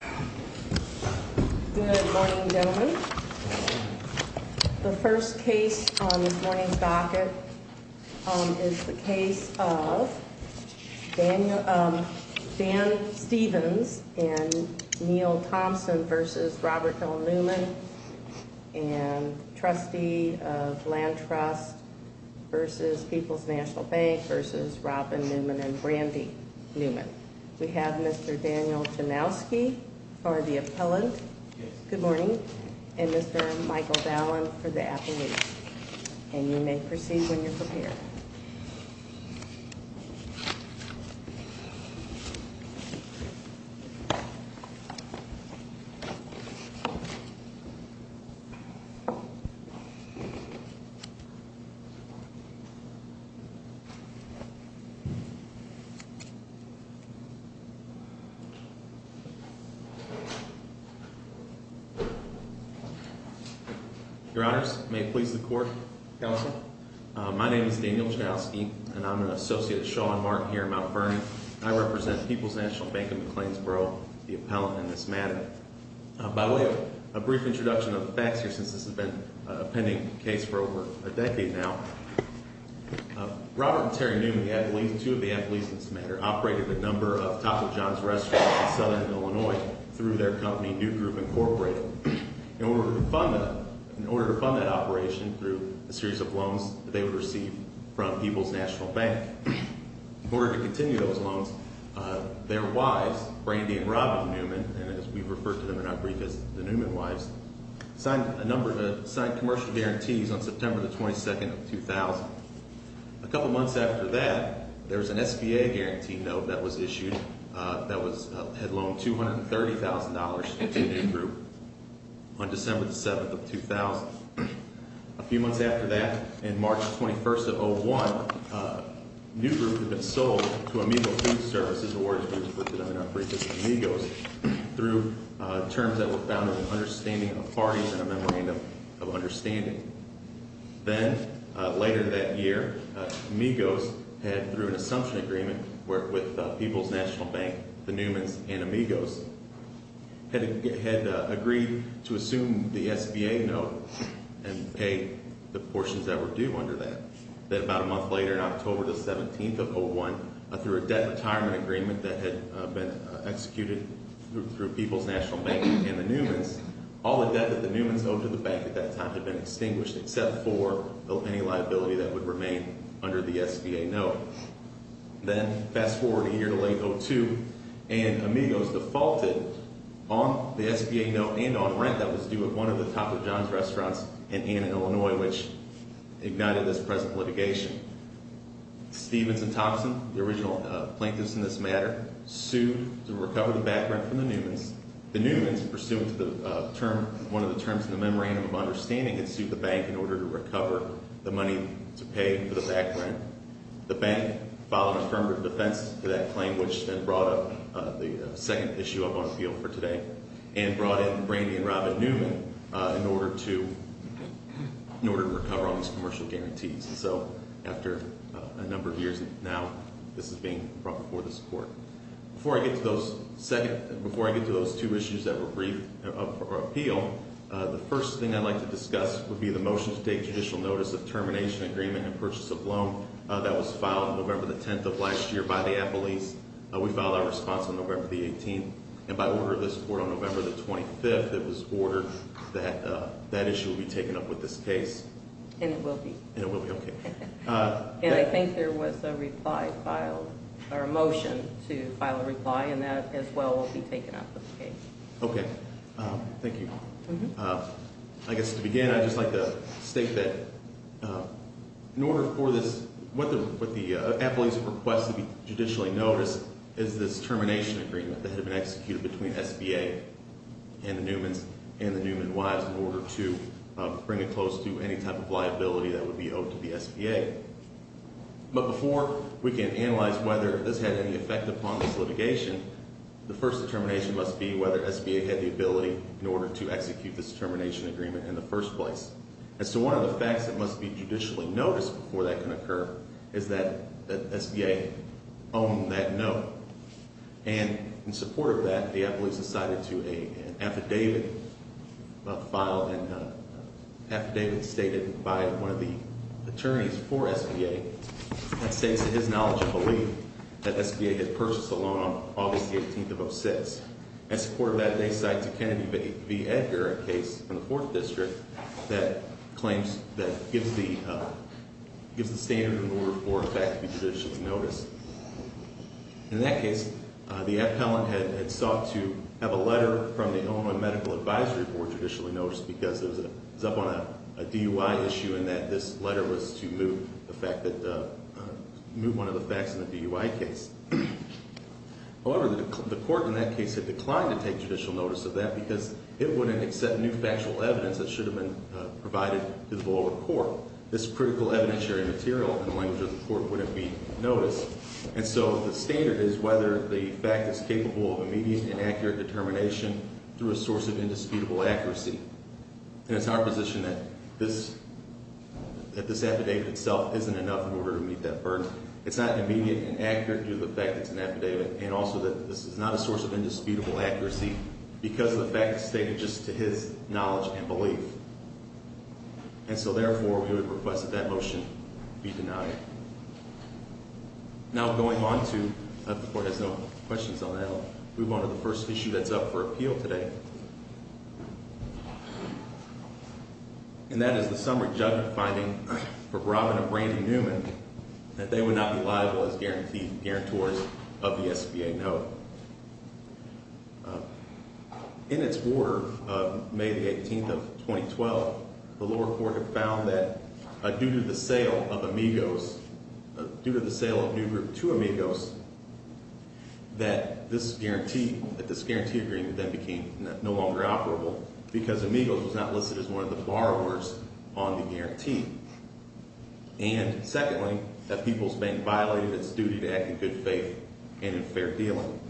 Good morning, gentlemen. The first case on this morning's docket is the case of Dan Stevens and Neal Thompson v. Robert L. Newman and trustee of Land Trust v. People's National Bank v. Robin Newman and Brandy Newman. We have Mr. Daniel Janowski for the appellant. Good morning. And Mr. Michael Fallon for the appellate. And you may proceed when you're prepared. Your honors, may it please the court. Counsel? My name is Daniel Janowski, and I'm an associate at Shaw & Martin here in Mount Vernon. I represent People's National Bank of McLeansboro, the appellant in this matter. By the way, a brief introduction of the facts here since this has been a pending case for over a decade now. Robert and Terry Newman, two of the appellees in this matter, operated a number of Taco John's restaurants in southern Illinois through their company, New Group Incorporated. In order to fund that operation through a series of loans that they would receive from People's National Bank. In order to continue those loans, their wives, Brandy and Robin Newman, and as we've referred to them in our brief as the Newman wives, signed a number of commercial guarantees on September the 22nd of 2000. A couple months after that, there was an SBA guarantee note that was issued that had loaned $230,000 to New Group on December the 7th of 2000. A few months after that, in March the 21st of 2001, New Group had been sold to Amigo Food Services, or as we refer to them in our brief as Amigos, through terms that were founded on understanding of parties and a memorandum of understanding. Then, later that year, Amigos had, through an assumption agreement with People's National Bank, the Newmans and Amigos, had agreed to assume the SBA note and pay the portions that were due under that. Then about a month later, in October the 17th of 2001, through a debt retirement agreement that had been executed through People's National Bank and the Newmans, all the debt that the Newmans owed to the bank at that time had been extinguished except for any liability that would remain under the SBA note. Then, fast forward a year to late 02, and Amigos defaulted on the SBA note and on rent that was due at one of the Topper John's restaurants in Ann and Illinois, which ignited this present litigation. Stevens and Thompson, the original plaintiffs in this matter, sued to recover the back rent from the Newmans. The Newmans, pursuant to one of the terms in the memorandum of understanding, had sued the bank in order to recover the money to pay for the back rent. The bank filed affirmative defense to that claim, which then brought up the second issue up on the field for today, and brought in Brandy and Robin Newman in order to recover on these commercial guarantees. And so, after a number of years now, this is being brought before this court. Before I get to those two issues that were briefed for appeal, the first thing I'd like to discuss would be the motion to take judicial notice of termination agreement and purchase of loan. That was filed November the 10th of last year by the appellees. We filed our response on November the 18th. And by order of this court on November the 25th, it was ordered that that issue would be taken up with this case. And it will be. And it will be, okay. And I think there was a reply filed, or a motion to file a reply, and that as well will be taken up with the case. Okay. Thank you. I guess to begin, I'd just like to state that in order for this, what the appellees have requested to be judicially noticed is this termination agreement that had been executed between SBA and the Newmans, and the Newman wives in order to bring a close to any type of liability that would be owed to the SBA. But before we can analyze whether this had any effect upon this litigation, the first determination must be whether SBA had the ability in order to execute this termination agreement in the first place. And so one of the facts that must be judicially noticed before that can occur is that SBA owned that note. And in support of that, the appellees have cited to an affidavit filed and affidavit stated by one of the attorneys for SBA that states his knowledge and belief that SBA had purchased the loan on August the 18th of 06. In support of that, they cite to Kennedy v. Edgar a case in the fourth district that gives the standard in order for a fact to be judicially noticed. In that case, the appellant had sought to have a letter from the Illinois Medical Advisory Board judicially noticed because it was up on a DUI issue and that this letter was to move one of the facts in the DUI case. However, the court in that case had declined to take judicial notice of that because it wouldn't accept new factual evidence that should have been provided to the lower court. So this critical evidentiary material in the language of the court wouldn't be noticed. And so the standard is whether the fact is capable of immediate and accurate determination through a source of indisputable accuracy. And it's our position that this affidavit itself isn't enough in order to meet that burden. It's not immediate and accurate due to the fact it's an affidavit. And also that this is not a source of indisputable accuracy because of the fact it's stated just to his knowledge and belief. And so therefore, we would request that that motion be denied. Now going on to, if the court has no questions on that, we'll move on to the first issue that's up for appeal today. And that is the summary judgment finding for Robin and Brandy Newman that they would not be liable as guarantors of the SBA note. In its order of May the 18th of 2012, the lower court had found that due to the sale of Amigos, due to the sale of New Group to Amigos, that this guarantee, that this guarantee agreement then became no longer operable because Amigos was not listed as one of the borrowers on the guarantee. And secondly, that People's Bank violated its duty to act in good faith and in fair dealing.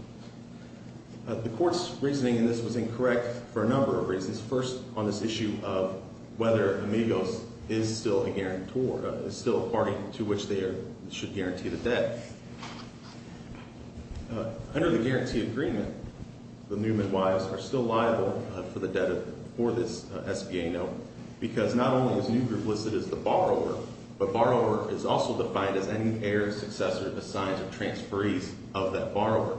The court's reasoning in this was incorrect for a number of reasons. First, on this issue of whether Amigos is still a guarantor, is still a party to which they should guarantee the debt. Under the guarantee agreement, the Newman wives are still liable for the debt for this SBA note. Because not only was New Group listed as the borrower, but borrower is also defined as any heir, successor, assigned to transferees of that borrower.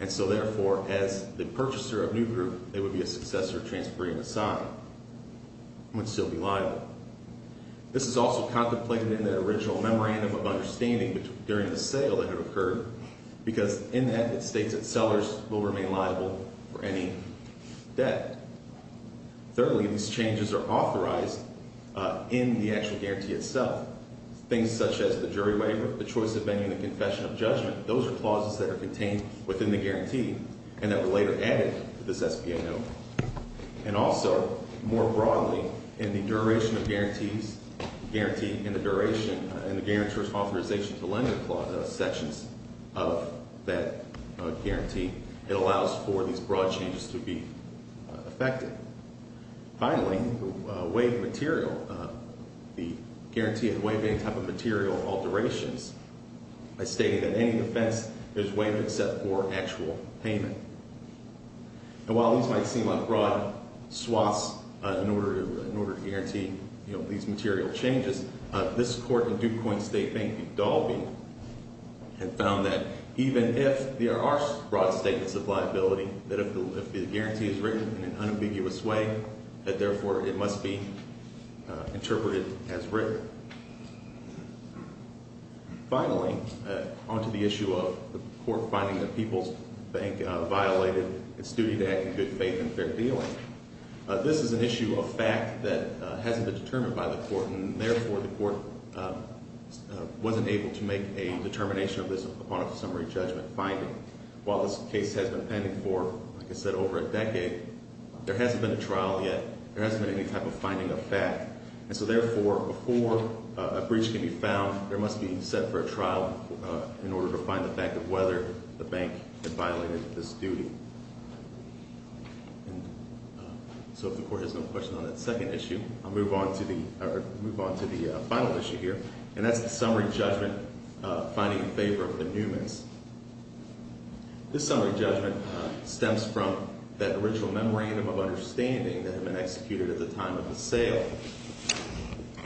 And so therefore, as the purchaser of New Group, they would be a successor transferring the sign, would still be liable. This is also contemplated in the original memorandum of understanding during the sale that had occurred, because in that it states that sellers will remain liable for any debt. Thirdly, these changes are authorized in the actual guarantee itself. Things such as the jury waiver, the choice of venue, and the confession of judgment, those are clauses that are contained within the guarantee and that were later added to this SBA note. And also, more broadly, in the duration of guarantees, guarantee in the duration, in the guarantor's authorization to lend the sections of that guarantee, it allows for these broad changes to be effective. Finally, the waiver material, the guarantee and waiving type of material alterations, I stated that any defense is waived except for actual payment. And while these might seem like broad swaths in order to guarantee these material changes, this court in DuPoint State, Bank of Dalby, had found that even if there are broad statements of liability, that if the guarantee is written in an unambiguous way, that therefore it must be interpreted as written. Finally, on to the issue of the court finding that People's Bank violated its duty to act in good faith and fair dealing. This is an issue of fact that hasn't been determined by the court, and therefore the court wasn't able to make a determination of this upon a summary judgment finding. While this case has been pending for, like I said, over a decade, there hasn't been a trial yet, there hasn't been any type of finding of fact. And so therefore, before a breach can be found, there must be set for a trial in order to find the fact of whether the bank had violated this duty. So if the court has no question on that second issue, I'll move on to the final issue here, and that's the summary judgment finding in favor of the Newmans. This summary judgment stems from that original memorandum of understanding that had been executed at the time of the sale.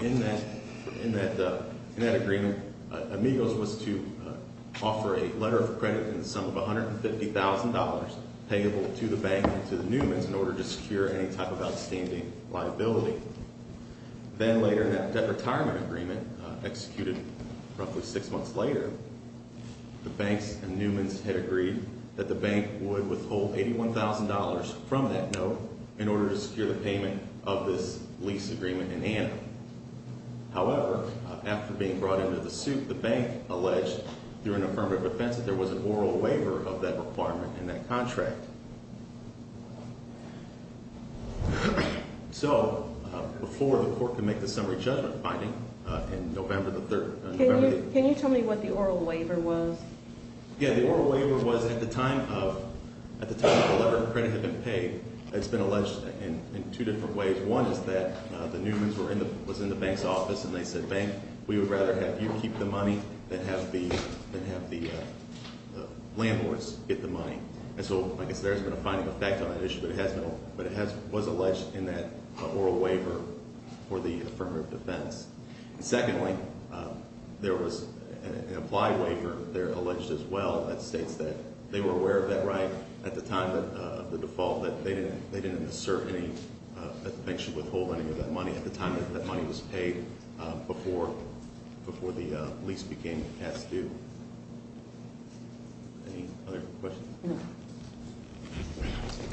In that agreement, Amigos was to offer a letter of credit in the sum of $150,000 payable to the bank and to the Newmans in order to secure any type of outstanding liability. Then later in that retirement agreement, executed roughly six months later, the banks and Newmans had agreed that the bank would withhold $81,000 from that note in order to secure the payment of this lease agreement in Anna. However, after being brought into the suit, the bank alleged, through an affirmative defense, that there was an oral waiver of that requirement in that contract. So, before the court can make the summary judgment finding in November the 3rd... Can you tell me what the oral waiver was? Yeah, the oral waiver was at the time of, at the time the letter of credit had been paid, it's been alleged in two different ways. One is that the Newmans were in the, was in the bank's office and they said, Bank, we would rather have you keep the money than have the, than have the landlords get the money. And so, like I said, there hasn't been a finding of fact on that issue, but it has been, but it has, was alleged in that oral waiver for the affirmative defense. And secondly, there was an implied waiver there alleged as well that states that they were aware of that right at the time of the default, that they didn't, they didn't assert any intention of withholding any of that money at the time that that money was paid before, before the lease became past due. Any other questions? No.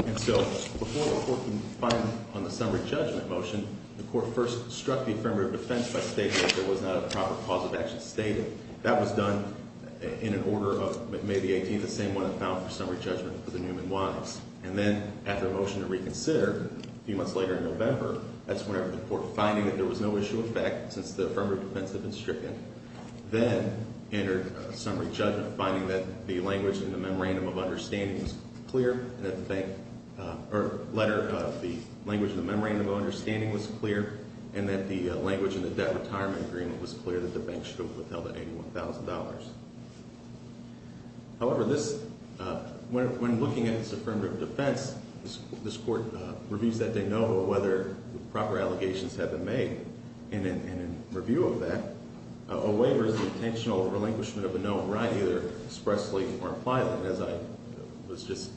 And so, before the court can find on the summary judgment motion, the court first struck the affirmative defense by stating that there was not a proper cause of action stated. That was done in an order of, maybe 18, the same one that found for summary judgment for the Newman wives. And then, after a motion to reconsider, a few months later in November, that's whenever the court finding that there was no issue of fact since the affirmative defense had been stricken, then entered a summary judgment finding that the language in the memorandum of understanding was clear, that the bank, or letter of the language in the memorandum of understanding was clear, and that the language in the debt retirement agreement was clear that the bank should have withheld $81,000. However, this, when looking at this affirmative defense, this court reviews that de novo whether proper allegations have been made, and in review of that, a waiver is an intentional relinquishment of a known right, either expressly or impliedly, as I was just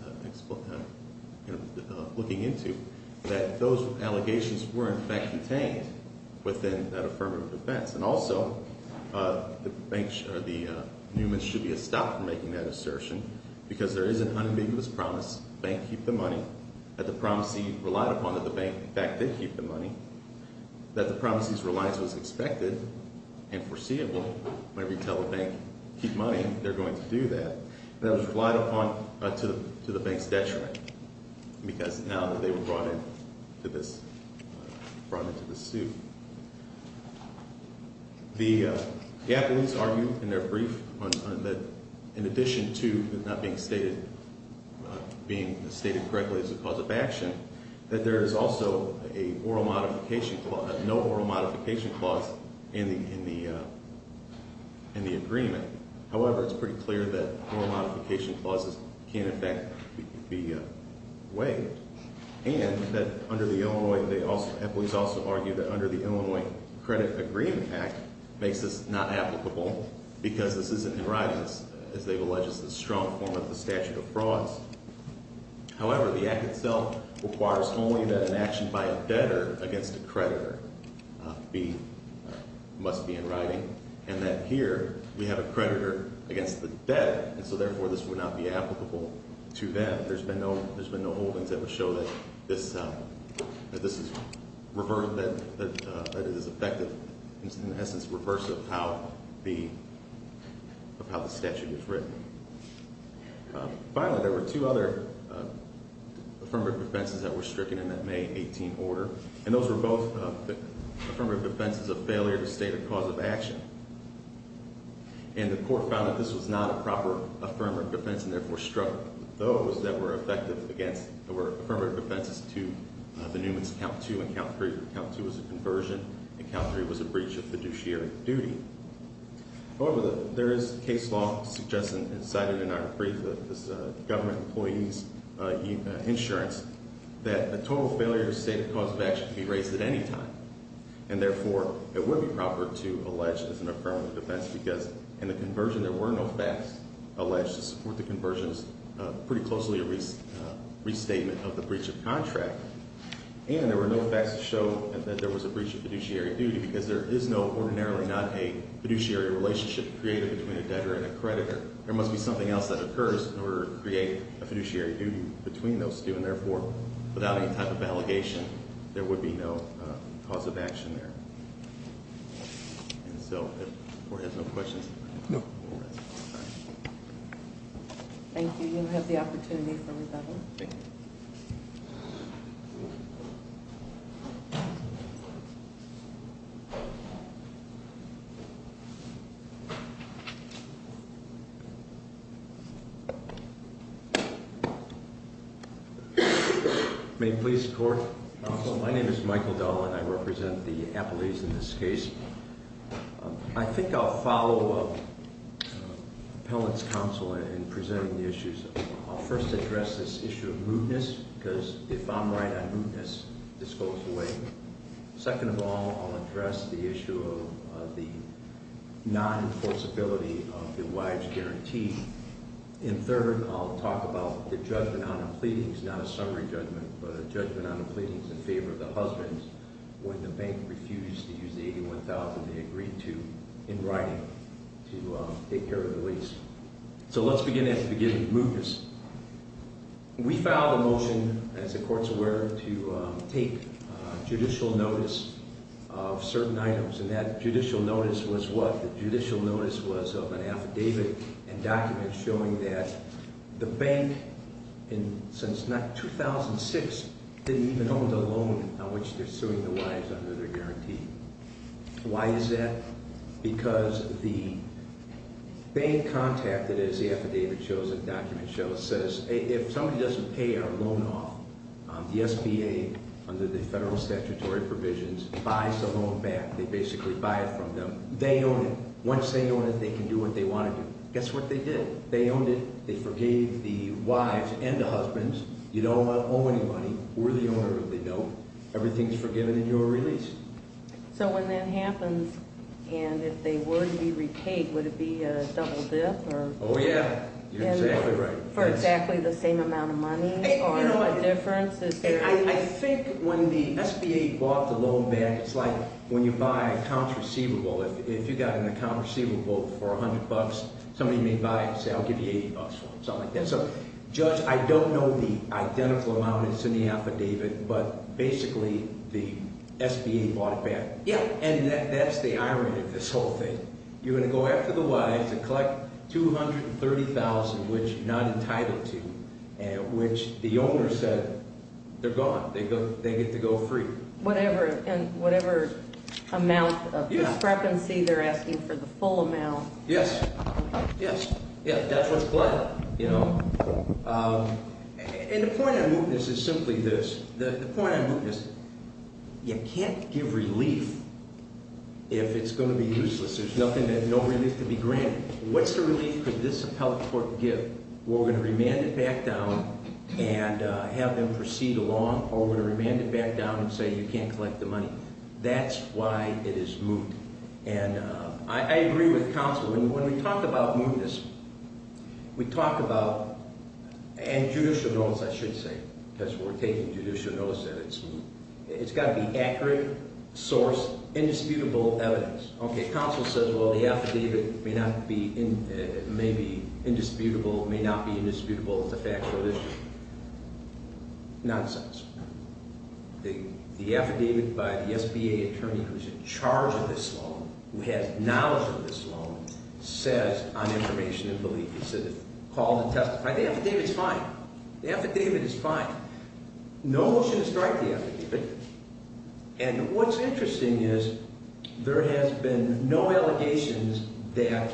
looking into, that those allegations were in fact contained within that affirmative defense. And also, the Newman's should be stopped from making that assertion, because there is an unambiguous promise, bank keep the money, that the promisee relied upon that the bank in fact did keep the money, that the promisee's reliance was expected and foreseeable, whenever you tell the bank keep money, they're going to do that, and that was relied upon to the bank's debt track, because now that they were brought into this suit. The affidavits argue in their brief that in addition to not being stated, being stated correctly as a cause of action, that there is also a oral modification clause, no oral modification clause in the agreement. However, it's pretty clear that oral modification clauses can in fact be waived, and that under the Illinois, they also, employees also argue that under the Illinois Credit Agreement Act, makes this not applicable, because this isn't in writing, as they've alleged is the strong form of the statute of frauds. However, the act itself requires only that an action by a debtor against a creditor be, must be in writing, and that here we have a creditor against the debt, and so therefore this would not be applicable to them. There's been no holdings that would show that this is, that it is effective, in essence reverse of how the statute is written. Finally, there were two other affirmative defenses that were stricken in that May 18 order, and those were both affirmative defenses of failure to state a cause of action, and the court found that this was not a proper affirmative defense, and therefore struck those that were effective against, that were affirmative defenses to the Newman's count two and count three. Count two was a conversion, and count three was a breach of fiduciary duty. However, there is case law suggesting and cited in our brief, this government employee's insurance, that a total failure to state a cause of action can be raised at any time, and therefore it would be proper to allege this is an affirmative defense, because in the conversion there were no facts alleged to support the conversion, pretty closely a restatement of the breach of contract, and there were no facts to show that there was a breach of fiduciary duty, because there is ordinarily not a fiduciary relationship created between a debtor and a creditor. There must be something else that occurs in order to create a fiduciary duty between those two, and therefore without any type of allegation there would be no cause of action there. And so if the court has no questions. No. Thank you. You have the opportunity for rebuttal. Thank you. Thank you. May it please the court. Counsel, my name is Michael Dell, and I represent the appellees in this case. I think I'll follow Appellant's counsel in presenting the issues. I'll first address this issue of mootness, because if I'm right on mootness, this goes away. Second of all, I'll address the issue of the non-enforceability of the wives' guarantee. And third, I'll talk about the judgment on the pleadings, not a summary judgment, but a judgment on the pleadings in favor of the husbands when the bank refused to use the $81,000 they agreed to in writing to take care of the lease. So let's begin at the beginning, mootness. We filed a motion, as the courts were, to take judicial notice of certain items. And that judicial notice was what? The judicial notice was of an affidavit and document showing that the bank, since 2006, didn't even own the loan on which they're suing the wives under their guarantee. Why is that? Because the bank contacted, as the affidavit shows and document shows, says, if somebody doesn't pay our loan off, the SBA, under the federal statutory provisions, buys the loan back. They basically buy it from them. They own it. Once they own it, they can do what they want to do. Guess what they did? They owned it. They forgave the wives and the husbands. You don't owe anybody. We're the owner of the loan. Everything's forgiven and you're released. So when that happens, and if they were to be repaid, would it be a double dip? Oh, yeah. You're exactly right. For exactly the same amount of money or a difference? I think when the SBA bought the loan back, it's like when you buy accounts receivable. If you've got an account receivable for $100, somebody may buy it and say, I'll give you $80 for it, something like that. So, Judge, I don't know the identical amount that's in the affidavit, but basically the SBA bought it back. Yeah. And that's the irony of this whole thing. You're going to go after the wives and collect $230,000, which not entitled to, which the owner said they're gone. They get to go free. Whatever amount of discrepancy they're asking for the full amount. Yes. Yes. That's what's collateral. And the point on mootness is simply this. The point on mootness, you can't give relief if it's going to be useless. There's no relief to be granted. What sort of relief could this appellate court give? We're going to remand it back down and have them proceed along, or we're going to remand it back down and say you can't collect the money. That's why it is moot. And I agree with counsel. When we talk about mootness, we talk about – and judicial notice, I should say, because we're taking judicial notice that it's moot. It's got to be accurate, sourced, indisputable evidence. Okay, counsel says, well, the affidavit may not be indisputable. It may not be indisputable. It's a factual issue. Nonsense. The affidavit by the SBA attorney who's in charge of this loan, who has knowledge of this loan, says on information and belief, it's called to testify. The affidavit's fine. The affidavit is fine. No motion to strike the affidavit. And what's interesting is there has been no allegations that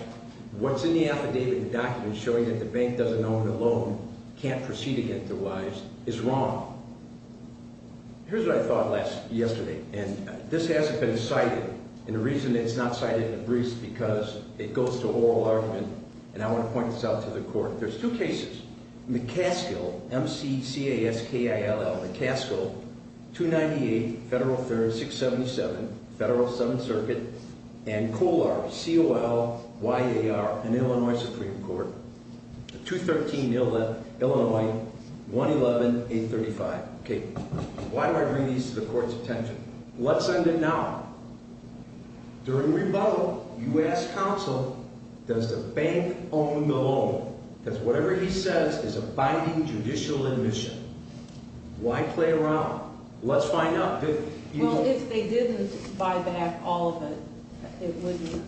what's in the affidavit, the document showing that the bank doesn't own the loan, can't proceed against it otherwise, is wrong. Here's what I thought yesterday, and this hasn't been cited, and the reason it's not cited in the briefs is because it goes to oral argument, and I want to point this out to the court. There's two cases, McCaskill, M-C-C-A-S-K-I-L-L, McCaskill, 298 Federal 377, Federal 7th Circuit, and Kolar, C-O-L-Y-A-R, an Illinois Supreme Court, 213, Illinois, 111, 835. Okay, why do I bring these to the court's attention? Let's end it now. During rebuttal, you asked counsel, does the bank own the loan? Because whatever he says is abiding judicial admission. Why play around? Let's find out. Well, if they didn't buy back all of it, it wouldn't,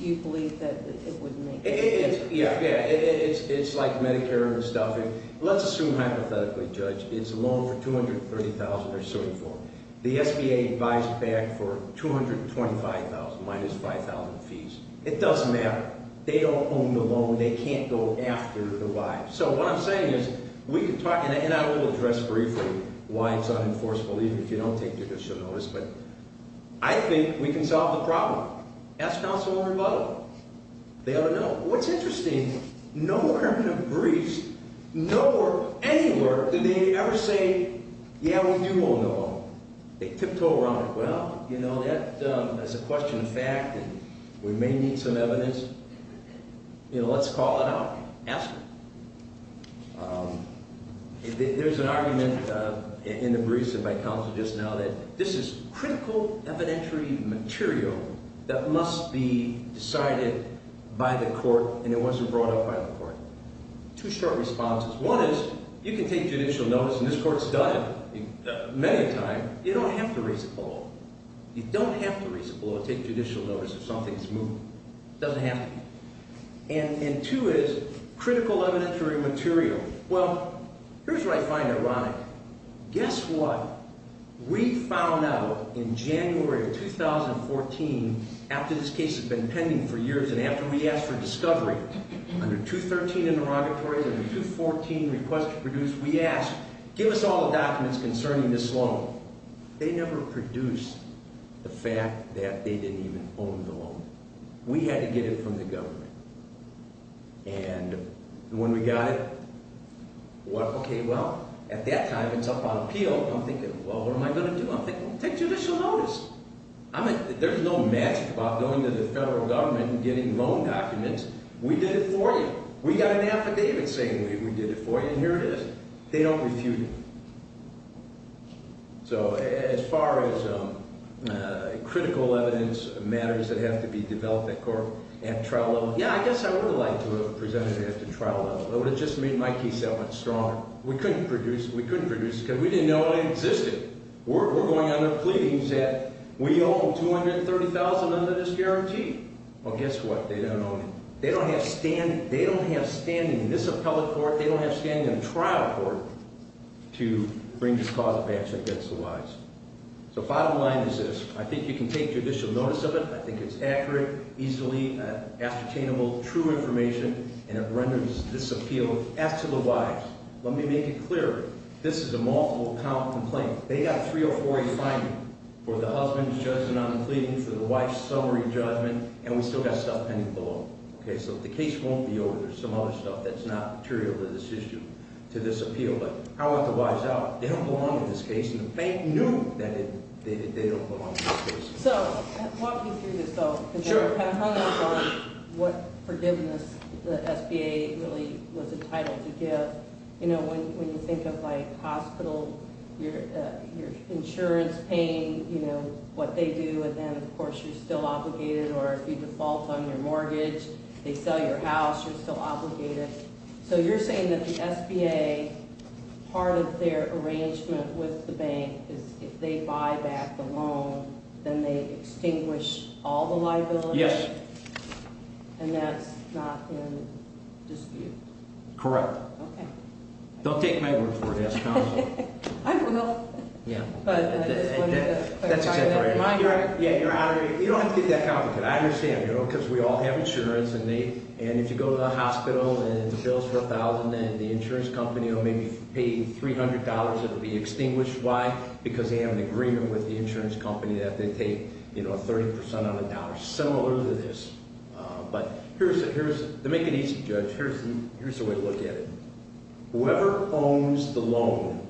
you believe that it wouldn't make sense? Yeah, yeah, it's like Medicare and stuff. Let's assume hypothetically, Judge, it's a loan for 230,000 or so. The SBA buys it back for 225,000, minus 5,000 fees. It doesn't matter. They don't own the loan. They can't go after the buy. So what I'm saying is we can talk, and I will address briefly why it's unenforceable, even if you don't take judicial notice, but I think we can solve the problem. Ask counsel for a rebuttal. They ought to know. What's interesting, nowhere in the briefs, nowhere anywhere did they ever say, yeah, we do own the loan. They tiptoe around it. Well, you know, that's a question of fact, and we may need some evidence. You know, let's call it out. Ask her. There's an argument in the briefs by counsel just now that this is critical evidentiary material that must be decided by the court, and it wasn't brought up by the court. Two short responses. One is you can take judicial notice, and this court's done it many a time. You don't have to raise it below. You don't have to raise it below to take judicial notice if something's moved. It doesn't have to be. And two is critical evidentiary material. Well, here's where I find it ironic. Guess what? We found out in January of 2014, after this case has been pending for years and after we asked for discovery under 213 interrogatory and 214 request to produce, we asked, give us all the documents concerning this loan. They never produced the fact that they didn't even own the loan. We had to get it from the government. And when we got it, what, okay, well, at that time it's up on appeal. I'm thinking, well, what am I going to do? I'm thinking, well, take judicial notice. There's no magic about going to the federal government and getting loan documents. We did it for you. We got an affidavit saying we did it for you, and here it is. They don't refute it. So as far as critical evidence matters that have to be developed at trial level, yeah, I guess I would have liked to have presented it at the trial level. It would have just made my case that much stronger. We couldn't produce it. We couldn't produce it because we didn't know it existed. We're going under pleadings that we own 230,000 under this guarantee. Well, guess what? They don't own it. They don't have standing in this appellate court. They don't have standing in the trial court to bring this cause of action against the wives. So bottom line is this. I think you can take judicial notice of it. I think it's accurate, easily ascertainable, true information, and it renders this appeal to the wives. Let me make it clear. This is a multiple-count complaint. They got a 304A finding for the husband's judgment on the pleadings, for the wife's summary judgment, and we still got stuff pending below. Okay, so the case won't be over. There's some other stuff that's not material to this issue, to this appeal. But I want the wives out. They don't belong in this case, and the bank knew that they don't belong in this case. So walking through this, though, because I have hundreds on what forgiveness the SBA really was entitled to give. You know, when you think of, like, hospital, your insurance, paying, you know, what they do, and then, of course, you're still obligated or you default on your mortgage. They sell your house. You're still obligated. So you're saying that the SBA, part of their arrangement with the bank is if they buy back the loan, then they extinguish all the liability? Yes. And that's not in dispute? Correct. Okay. Don't take my word for it. Ask counsel. I will. Yeah. That's exactly right. Am I correct? Yeah, you're out. You don't have to get that complicated. I understand, you know, because we all have insurance, and if you go to the hospital and the bill's for $1,000 and the insurance company will maybe pay you $300, it will be extinguished. Why? Because they have an agreement with the insurance company that they take, you know, 30 percent on the dollar. Similar to this. But here's the way to look at it. Whoever owns the loan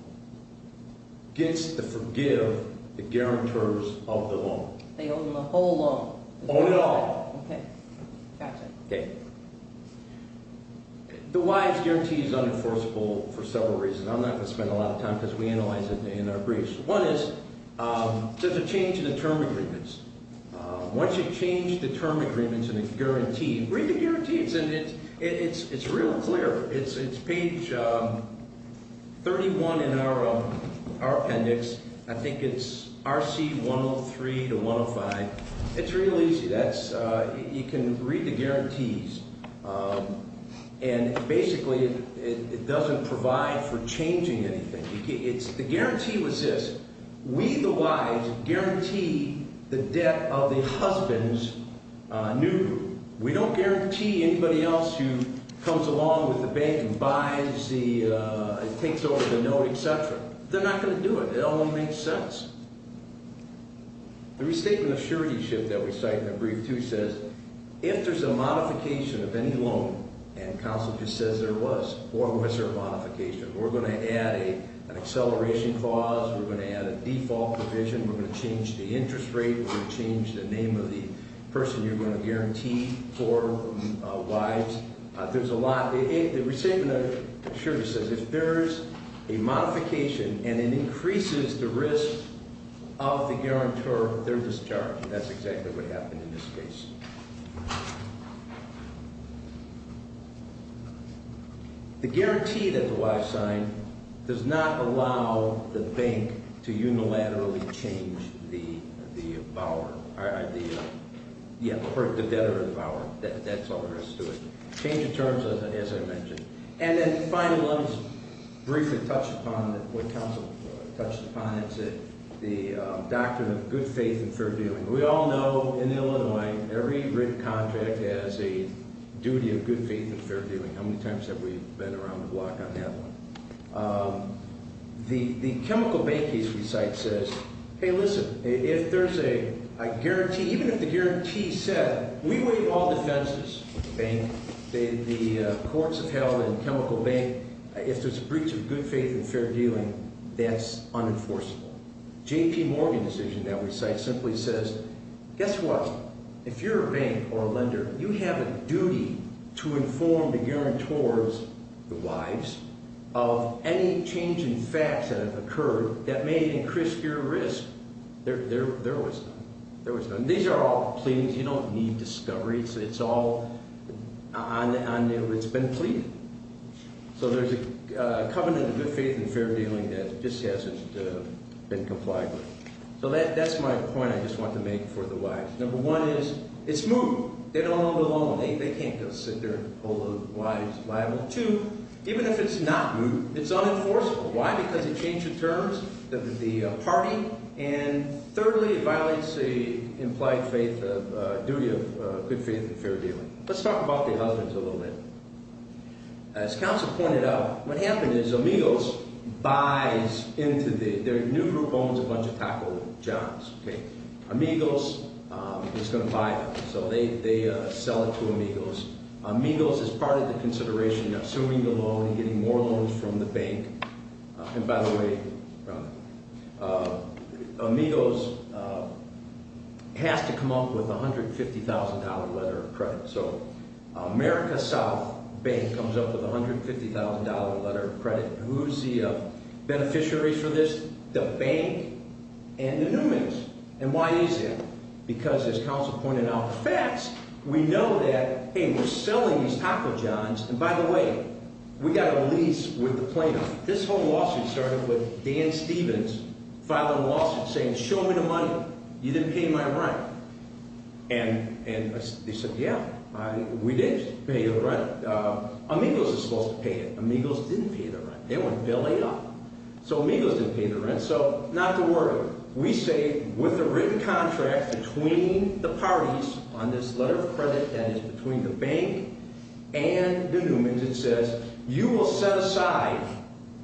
gets to forgive the guarantors of the loan. They own the whole loan. Own it all. Okay. Got you. Okay. The Y's guarantee is unenforceable for several reasons. I'm not going to spend a lot of time because we analyze it in our briefs. One is there's a change in the term agreements. Once you change the term agreements and the guarantee, read the guarantees, and it's real clear. It's page 31 in our appendix. I think it's RC 103 to 105. It's real easy. You can read the guarantees, and basically it doesn't provide for changing anything. The guarantee was this. We, the Y's, guarantee the debt of the husband's new room. We don't guarantee anybody else who comes along with the bank and buys the things over the note, et cetera. They're not going to do it. It all won't make sense. The restatement of suretyship that we cite in the brief, too, says if there's a modification of any loan, and counsel just says there was, or was there a modification, we're going to add an acceleration clause. We're going to add a default provision. We're going to change the interest rate. We're going to change the name of the person you're going to guarantee for wives. There's a lot. The restatement of surety says if there's a modification and it increases the risk of the guarantor, they're discharged. That's exactly what happened in this case. The guarantee that the Y signed does not allow the bank to unilaterally change the debtor of the bower. That's all there is to it. Change of terms, as I mentioned. And then the final one is briefly touched upon. What counsel touched upon is the doctrine of good faith and fair dealing. We all know in Illinois every written contract has a duty of good faith and fair dealing. How many times have we been around the block on that one? The chemical bank case we cite says, hey, listen, if there's a guarantee, even if the guarantee said we waive all defenses, the courts have held in chemical bank, if there's a breach of good faith and fair dealing, that's unenforceable. J.P. Morgan's decision that we cite simply says, guess what, if you're a bank or a lender, you have a duty to inform the guarantors, the wives, of any change in facts that have occurred that may increase your risk. There was none. These are all pleadings. You don't need discoveries. It's all on there. It's been pleaded. So there's a covenant of good faith and fair dealing that just hasn't been complied with. So that's my point I just want to make for the wives. Number one is it's moot. They don't own the loan. They can't go sit there and hold the wives liable. Two, even if it's not moot, it's unenforceable. Why? Because it changed the terms of the party. And thirdly, it violates the implied faith of duty of good faith and fair dealing. Let's talk about the husbands a little bit. As counsel pointed out, what happened is Amigos buys into the—their new group owns a bunch of taco jobs. Amigos is going to buy them. So they sell it to Amigos. Amigos is part of the consideration, assuming the loan and getting more loans from the bank. And, by the way, Amigos has to come up with a $150,000 letter of credit. So America South Bank comes up with a $150,000 letter of credit. Who's the beneficiaries for this? The bank and the Newman's. And why is that? Because, as counsel pointed out, the facts, we know that, hey, we're selling these taco jobs. And, by the way, we got a release with the plaintiff. This whole lawsuit started with Dan Stevens filing a lawsuit saying, show me the money. You didn't pay my rent. And they said, yeah, we did pay you the rent. Amigos is supposed to pay it. Amigos didn't pay the rent. They went belly up. So Amigos didn't pay the rent. So not to worry. We say with the written contract between the parties on this letter of credit that is between the bank and the Newman's, it says, you will set aside,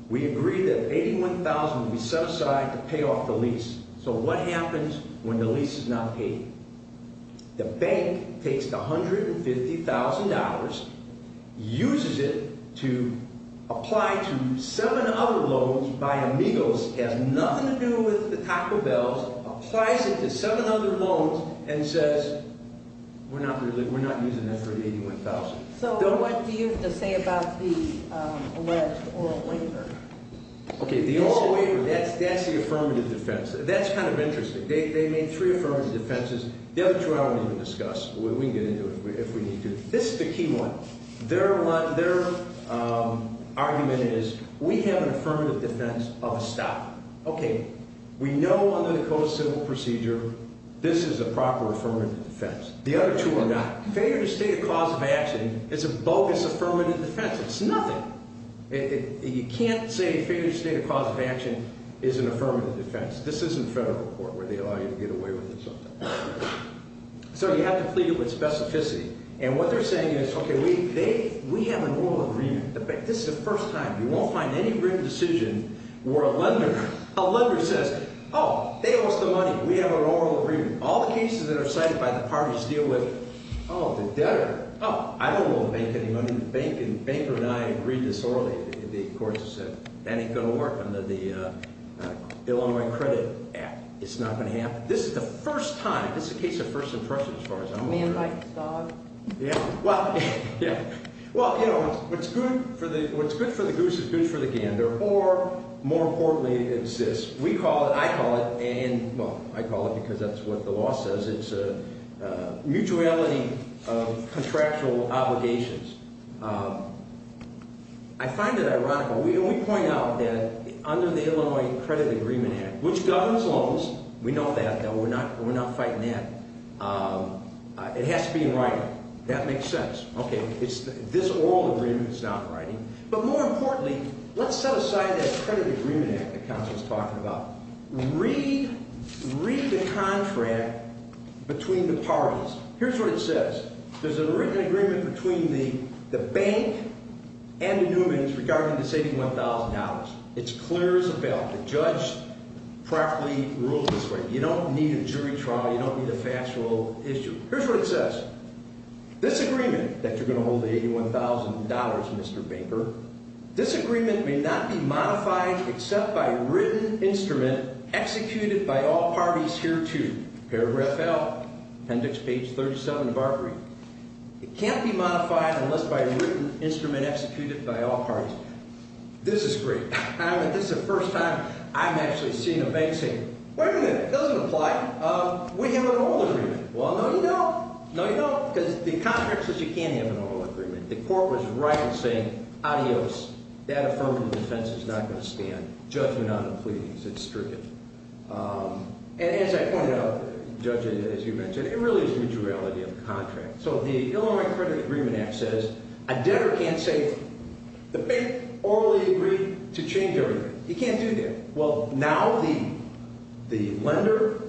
we agree that $81,000 will be set aside to pay off the lease. So what happens when the lease is not paid? The bank takes the $150,000, uses it to apply to seven other loans by Amigos. It has nothing to do with the Taco Bells. Applies it to seven other loans and says, we're not using that for the $81,000. So what do you have to say about the alleged oral waiver? Okay, the oral waiver, that's the affirmative defense. That's kind of interesting. They made three affirmative defenses. The other two I won't even discuss. We can get into it if we need to. This is the key one. Their argument is, we have an affirmative defense of a stop. Okay, we know under the Code of Civil Procedure this is a proper affirmative defense. The other two are not. Failure to state a cause of action is a bogus affirmative defense. It's nothing. You can't say failure to state a cause of action is an affirmative defense. This isn't federal court where they allow you to get away with it sometimes. So you have to plead it with specificity. And what they're saying is, okay, we have an oral agreement. This is the first time. You won't find any written decision where a lender says, oh, they lost the money. We have an oral agreement. All the cases that are cited by the parties deal with, oh, the debtor. Oh, I don't owe the bank any money. The banker and I agreed this orally. The courts have said, that ain't going to work under the Illinois Credit Act. It's not going to happen. This is a case of first impression as far as I'm aware. Yeah. Well, you know, what's good for the goose is good for the gander. Or, more importantly, it insists. We call it, I call it, and, well, I call it because that's what the law says. It's a mutuality of contractual obligations. I find it ironical. We point out that under the Illinois Credit Agreement Act, which governs loans. We know that. We're not fighting that. It has to be in writing. That makes sense. Okay. This oral agreement is not writing. But, more importantly, let's set aside that credit agreement act that Counselor's talking about. Read the contract between the parties. Here's what it says. There's an agreement between the bank and the Newman's regarding the $71,000. It's clear as a bell. The judge properly rules this way. You don't need a jury trial. You don't need a fast rule issue. Here's what it says. This agreement that you're going to hold the $81,000, Mr. Baker, this agreement may not be modified except by a written instrument executed by all parties hereto. Paragraph L, appendix page 37 of our brief. It can't be modified unless by a written instrument executed by all parties. This is great. This is the first time I'm actually seeing a bank say, wait a minute, it doesn't apply. We have an oral agreement. Well, no, you don't. No, you don't. Because the contract says you can't have an oral agreement. The court was right in saying, adios, that affirmative defense is not going to stand. Judgment on the pleadings. It's stricter. And as I pointed out, Judge, as you mentioned, it really is mutuality of the contract. So the Illinois Credit Agreement Act says a debtor can't say the bank orally agreed to change everything. He can't do that. Well, now the lender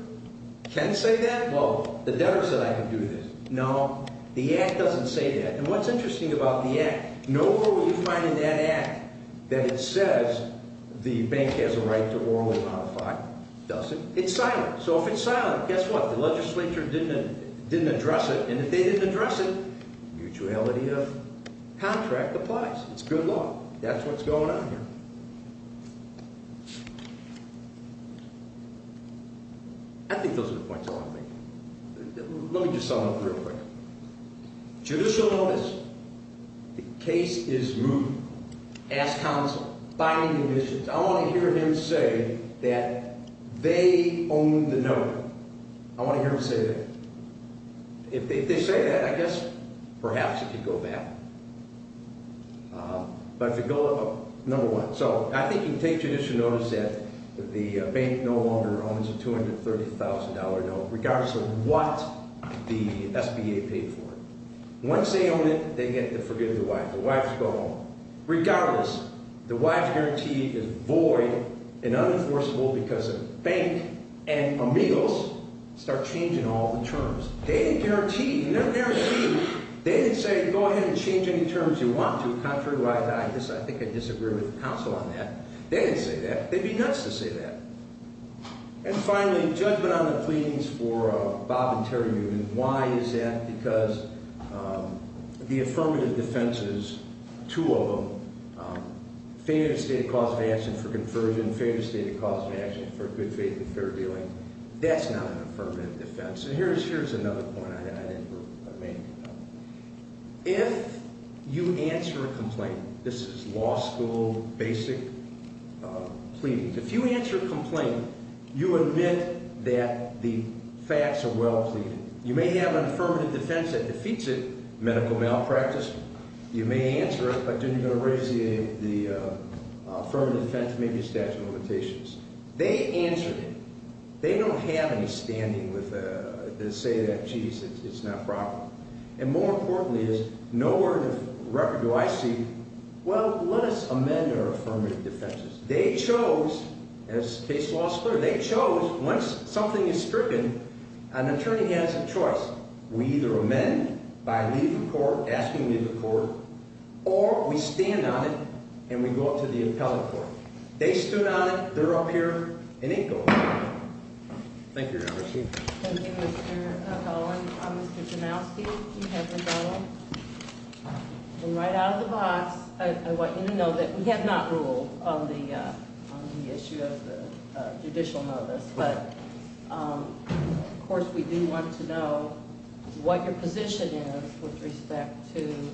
can say that? Well, the debtor said I can do this. No, the Act doesn't say that. And what's interesting about the Act, nowhere will you find in that Act that it says the bank has a right to orally modify. It doesn't. It's silent. So if it's silent, guess what? The legislature didn't address it. And if they didn't address it, mutuality of contract applies. It's good law. That's what's going on here. I think those are the points I want to make. Let me just sum it up real quick. Judicial notice. The case is moved. Ask counsel. Finding conditions. I want to hear him say that they own the note. I want to hear him say that. If they say that, I guess perhaps it could go back. But if they go up, number one. So I think you can take judicial notice that the bank no longer owns a $230,000 note, regardless of what the SBA paid for it. Once they own it, they get to forgive the wife. The wife can go home. Regardless, the wife's guarantee is void and unenforceable because the bank and Emile's start changing all the terms. They didn't guarantee. They never did. They didn't say, go ahead and change any terms you want to. Contrary to what I thought. I think I disagree with counsel on that. They didn't say that. They'd be nuts to say that. And finally, judgment on the pleadings for Bob and Terri Newton. Why is that? Because the affirmative defense is two of them. Failure to state a cause of action for conversion. Failure to state a cause of action for good faith and fair dealing. That's not an affirmative defense. So here's another point I made. If you answer a complaint, this is law school basic pleadings. If you answer a complaint, you admit that the facts are well pleaded. You may have an affirmative defense that defeats it, medical malpractice. You may answer it, but then you're going to raise the affirmative defense, maybe a statute of limitations. They answered it. They don't have any standing to say that, geez, it's not proper. And more importantly is, no word of record do I see, well, let us amend our affirmative defenses. They chose, as case law is clear, they chose, once something is stricken, an attorney has a choice. We either amend by leaving the court, asking to leave the court, or we stand on it and we go up to the appellate court. They stood on it. They're up here and ain't going nowhere. Thank you, Your Honor. Thank you, Mr. Dolan. Mr. Janowski, you have the ball. And right out of the box, I want you to know that we have not ruled on the issue of the judicial notice. But of course, we do want to know what your position is with respect to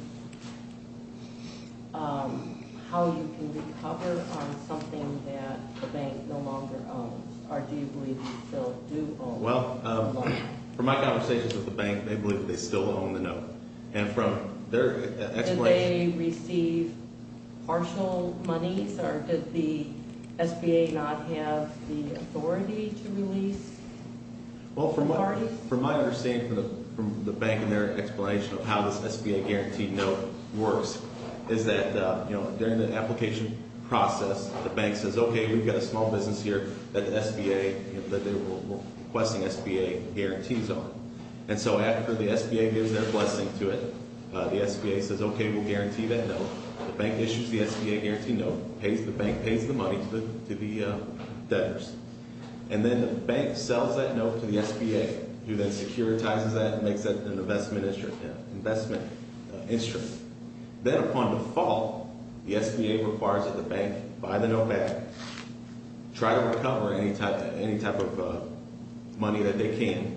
how you can recover on something that the bank no longer owns. Or do you believe they still do own? Well, from my conversations with the bank, they believe that they still own the note. And from their explanation- Partial monies, or did the SBA not have the authority to release the parties? Well, from my understanding from the bank and their explanation of how this SBA-guaranteed note works, is that during the application process, the bank says, okay, we've got a small business here that the SBA, that they were requesting SBA guarantees on. And so after the SBA gives their blessing to it, the SBA says, okay, we'll guarantee that note. The bank issues the SBA-guaranteed note, pays the bank, pays the money to the debtors. And then the bank sells that note to the SBA, who then securitizes that and makes that an investment instrument. Then upon default, the SBA requires that the bank buy the note back, try to recover any type of money that they can.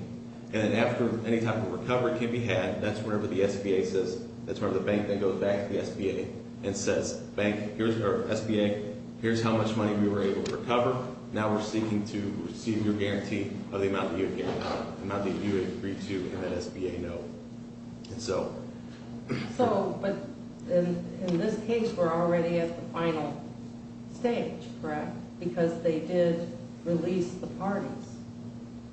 And then after any type of recovery can be had, that's whenever the SBA says, that's whenever the bank then goes back to the SBA and says, SBA, here's how much money we were able to recover. Now we're seeking to receive your guarantee of the amount that you agreed to in that SBA note. And so- So, but in this case, we're already at the final stage, correct? Because they did release the parties.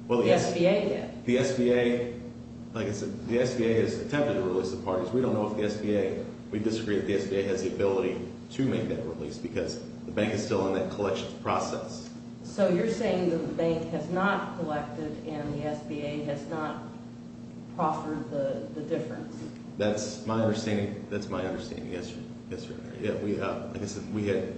The SBA did. The SBA, like I said, the SBA has attempted to release the parties. We don't know if the SBA, we disagree that the SBA has the ability to make that release because the bank is still in that collections process. So you're saying that the bank has not collected and the SBA has not proffered the difference. That's my understanding. That's my understanding, yes, yes, Your Honor. We had,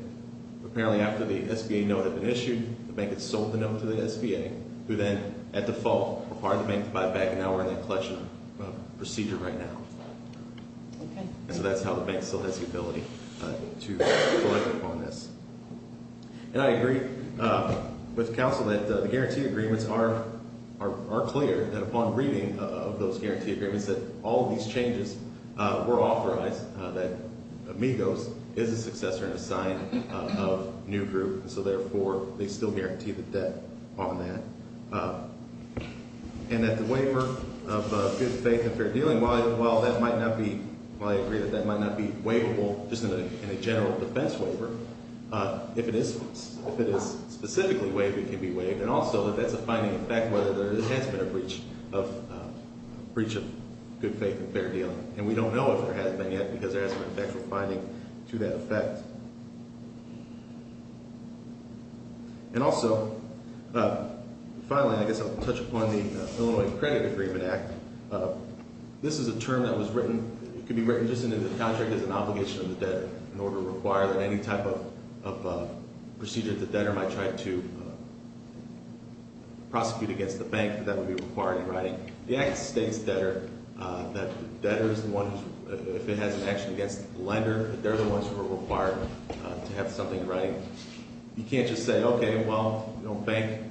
apparently after the SBA note had been issued, the bank had sold the note to the SBA, who then, at default, required the bank to buy it back, and now we're in that collection procedure right now. Okay. And so that's how the bank still has the ability to collect upon this. And I agree with counsel that the guarantee agreements are clear, that upon reading of those guarantee agreements that all of these changes were authorized, that Amigos is a successor and a sign of new group, and so, therefore, they still guarantee the debt on that. And that the waiver of good faith and fair dealing, while that might not be, while I agree that that might not be waivable just in a general defense waiver, if it is specifically waived, it can be waived. And also that that's a finding effect whether there has been a breach of good faith and fair dealing. And we don't know if there hasn't been yet because there hasn't been factual finding to that effect. And also, finally, I guess I'll touch upon the Illinois Credit Agreement Act. This is a term that was written, it could be written just as an obligation of the debtor in order to require that any type of procedure that the debtor might try to prosecute against the bank, that would be required in writing. The act states debtor, that debtor is the one, if it has an action against the lender, they're the ones who are required to have something in writing. You can't just say, okay, well, bank,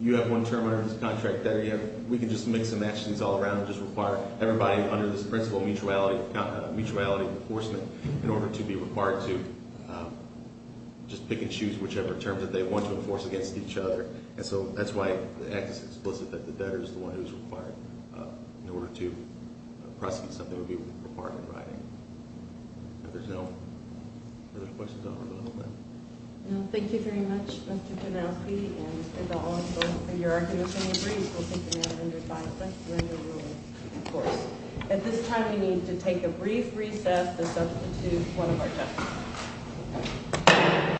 you have one term under this contract, debtor, we can just mix and match these all around and just require everybody under this principle of mutuality, in order to be required to just pick and choose whichever terms that they want to enforce against each other. And so that's why the act is explicit that the debtor is the one who's required in order to prosecute something that would be required in writing. If there's no further questions, I'll go ahead and open it up. Thank you very much, Mr. Penofsky. And as I'll also, in your argument, in your brief, we'll take the matter under five. But you're in your rule, of course. At this time, we need to take a brief recess to substitute one of our judges.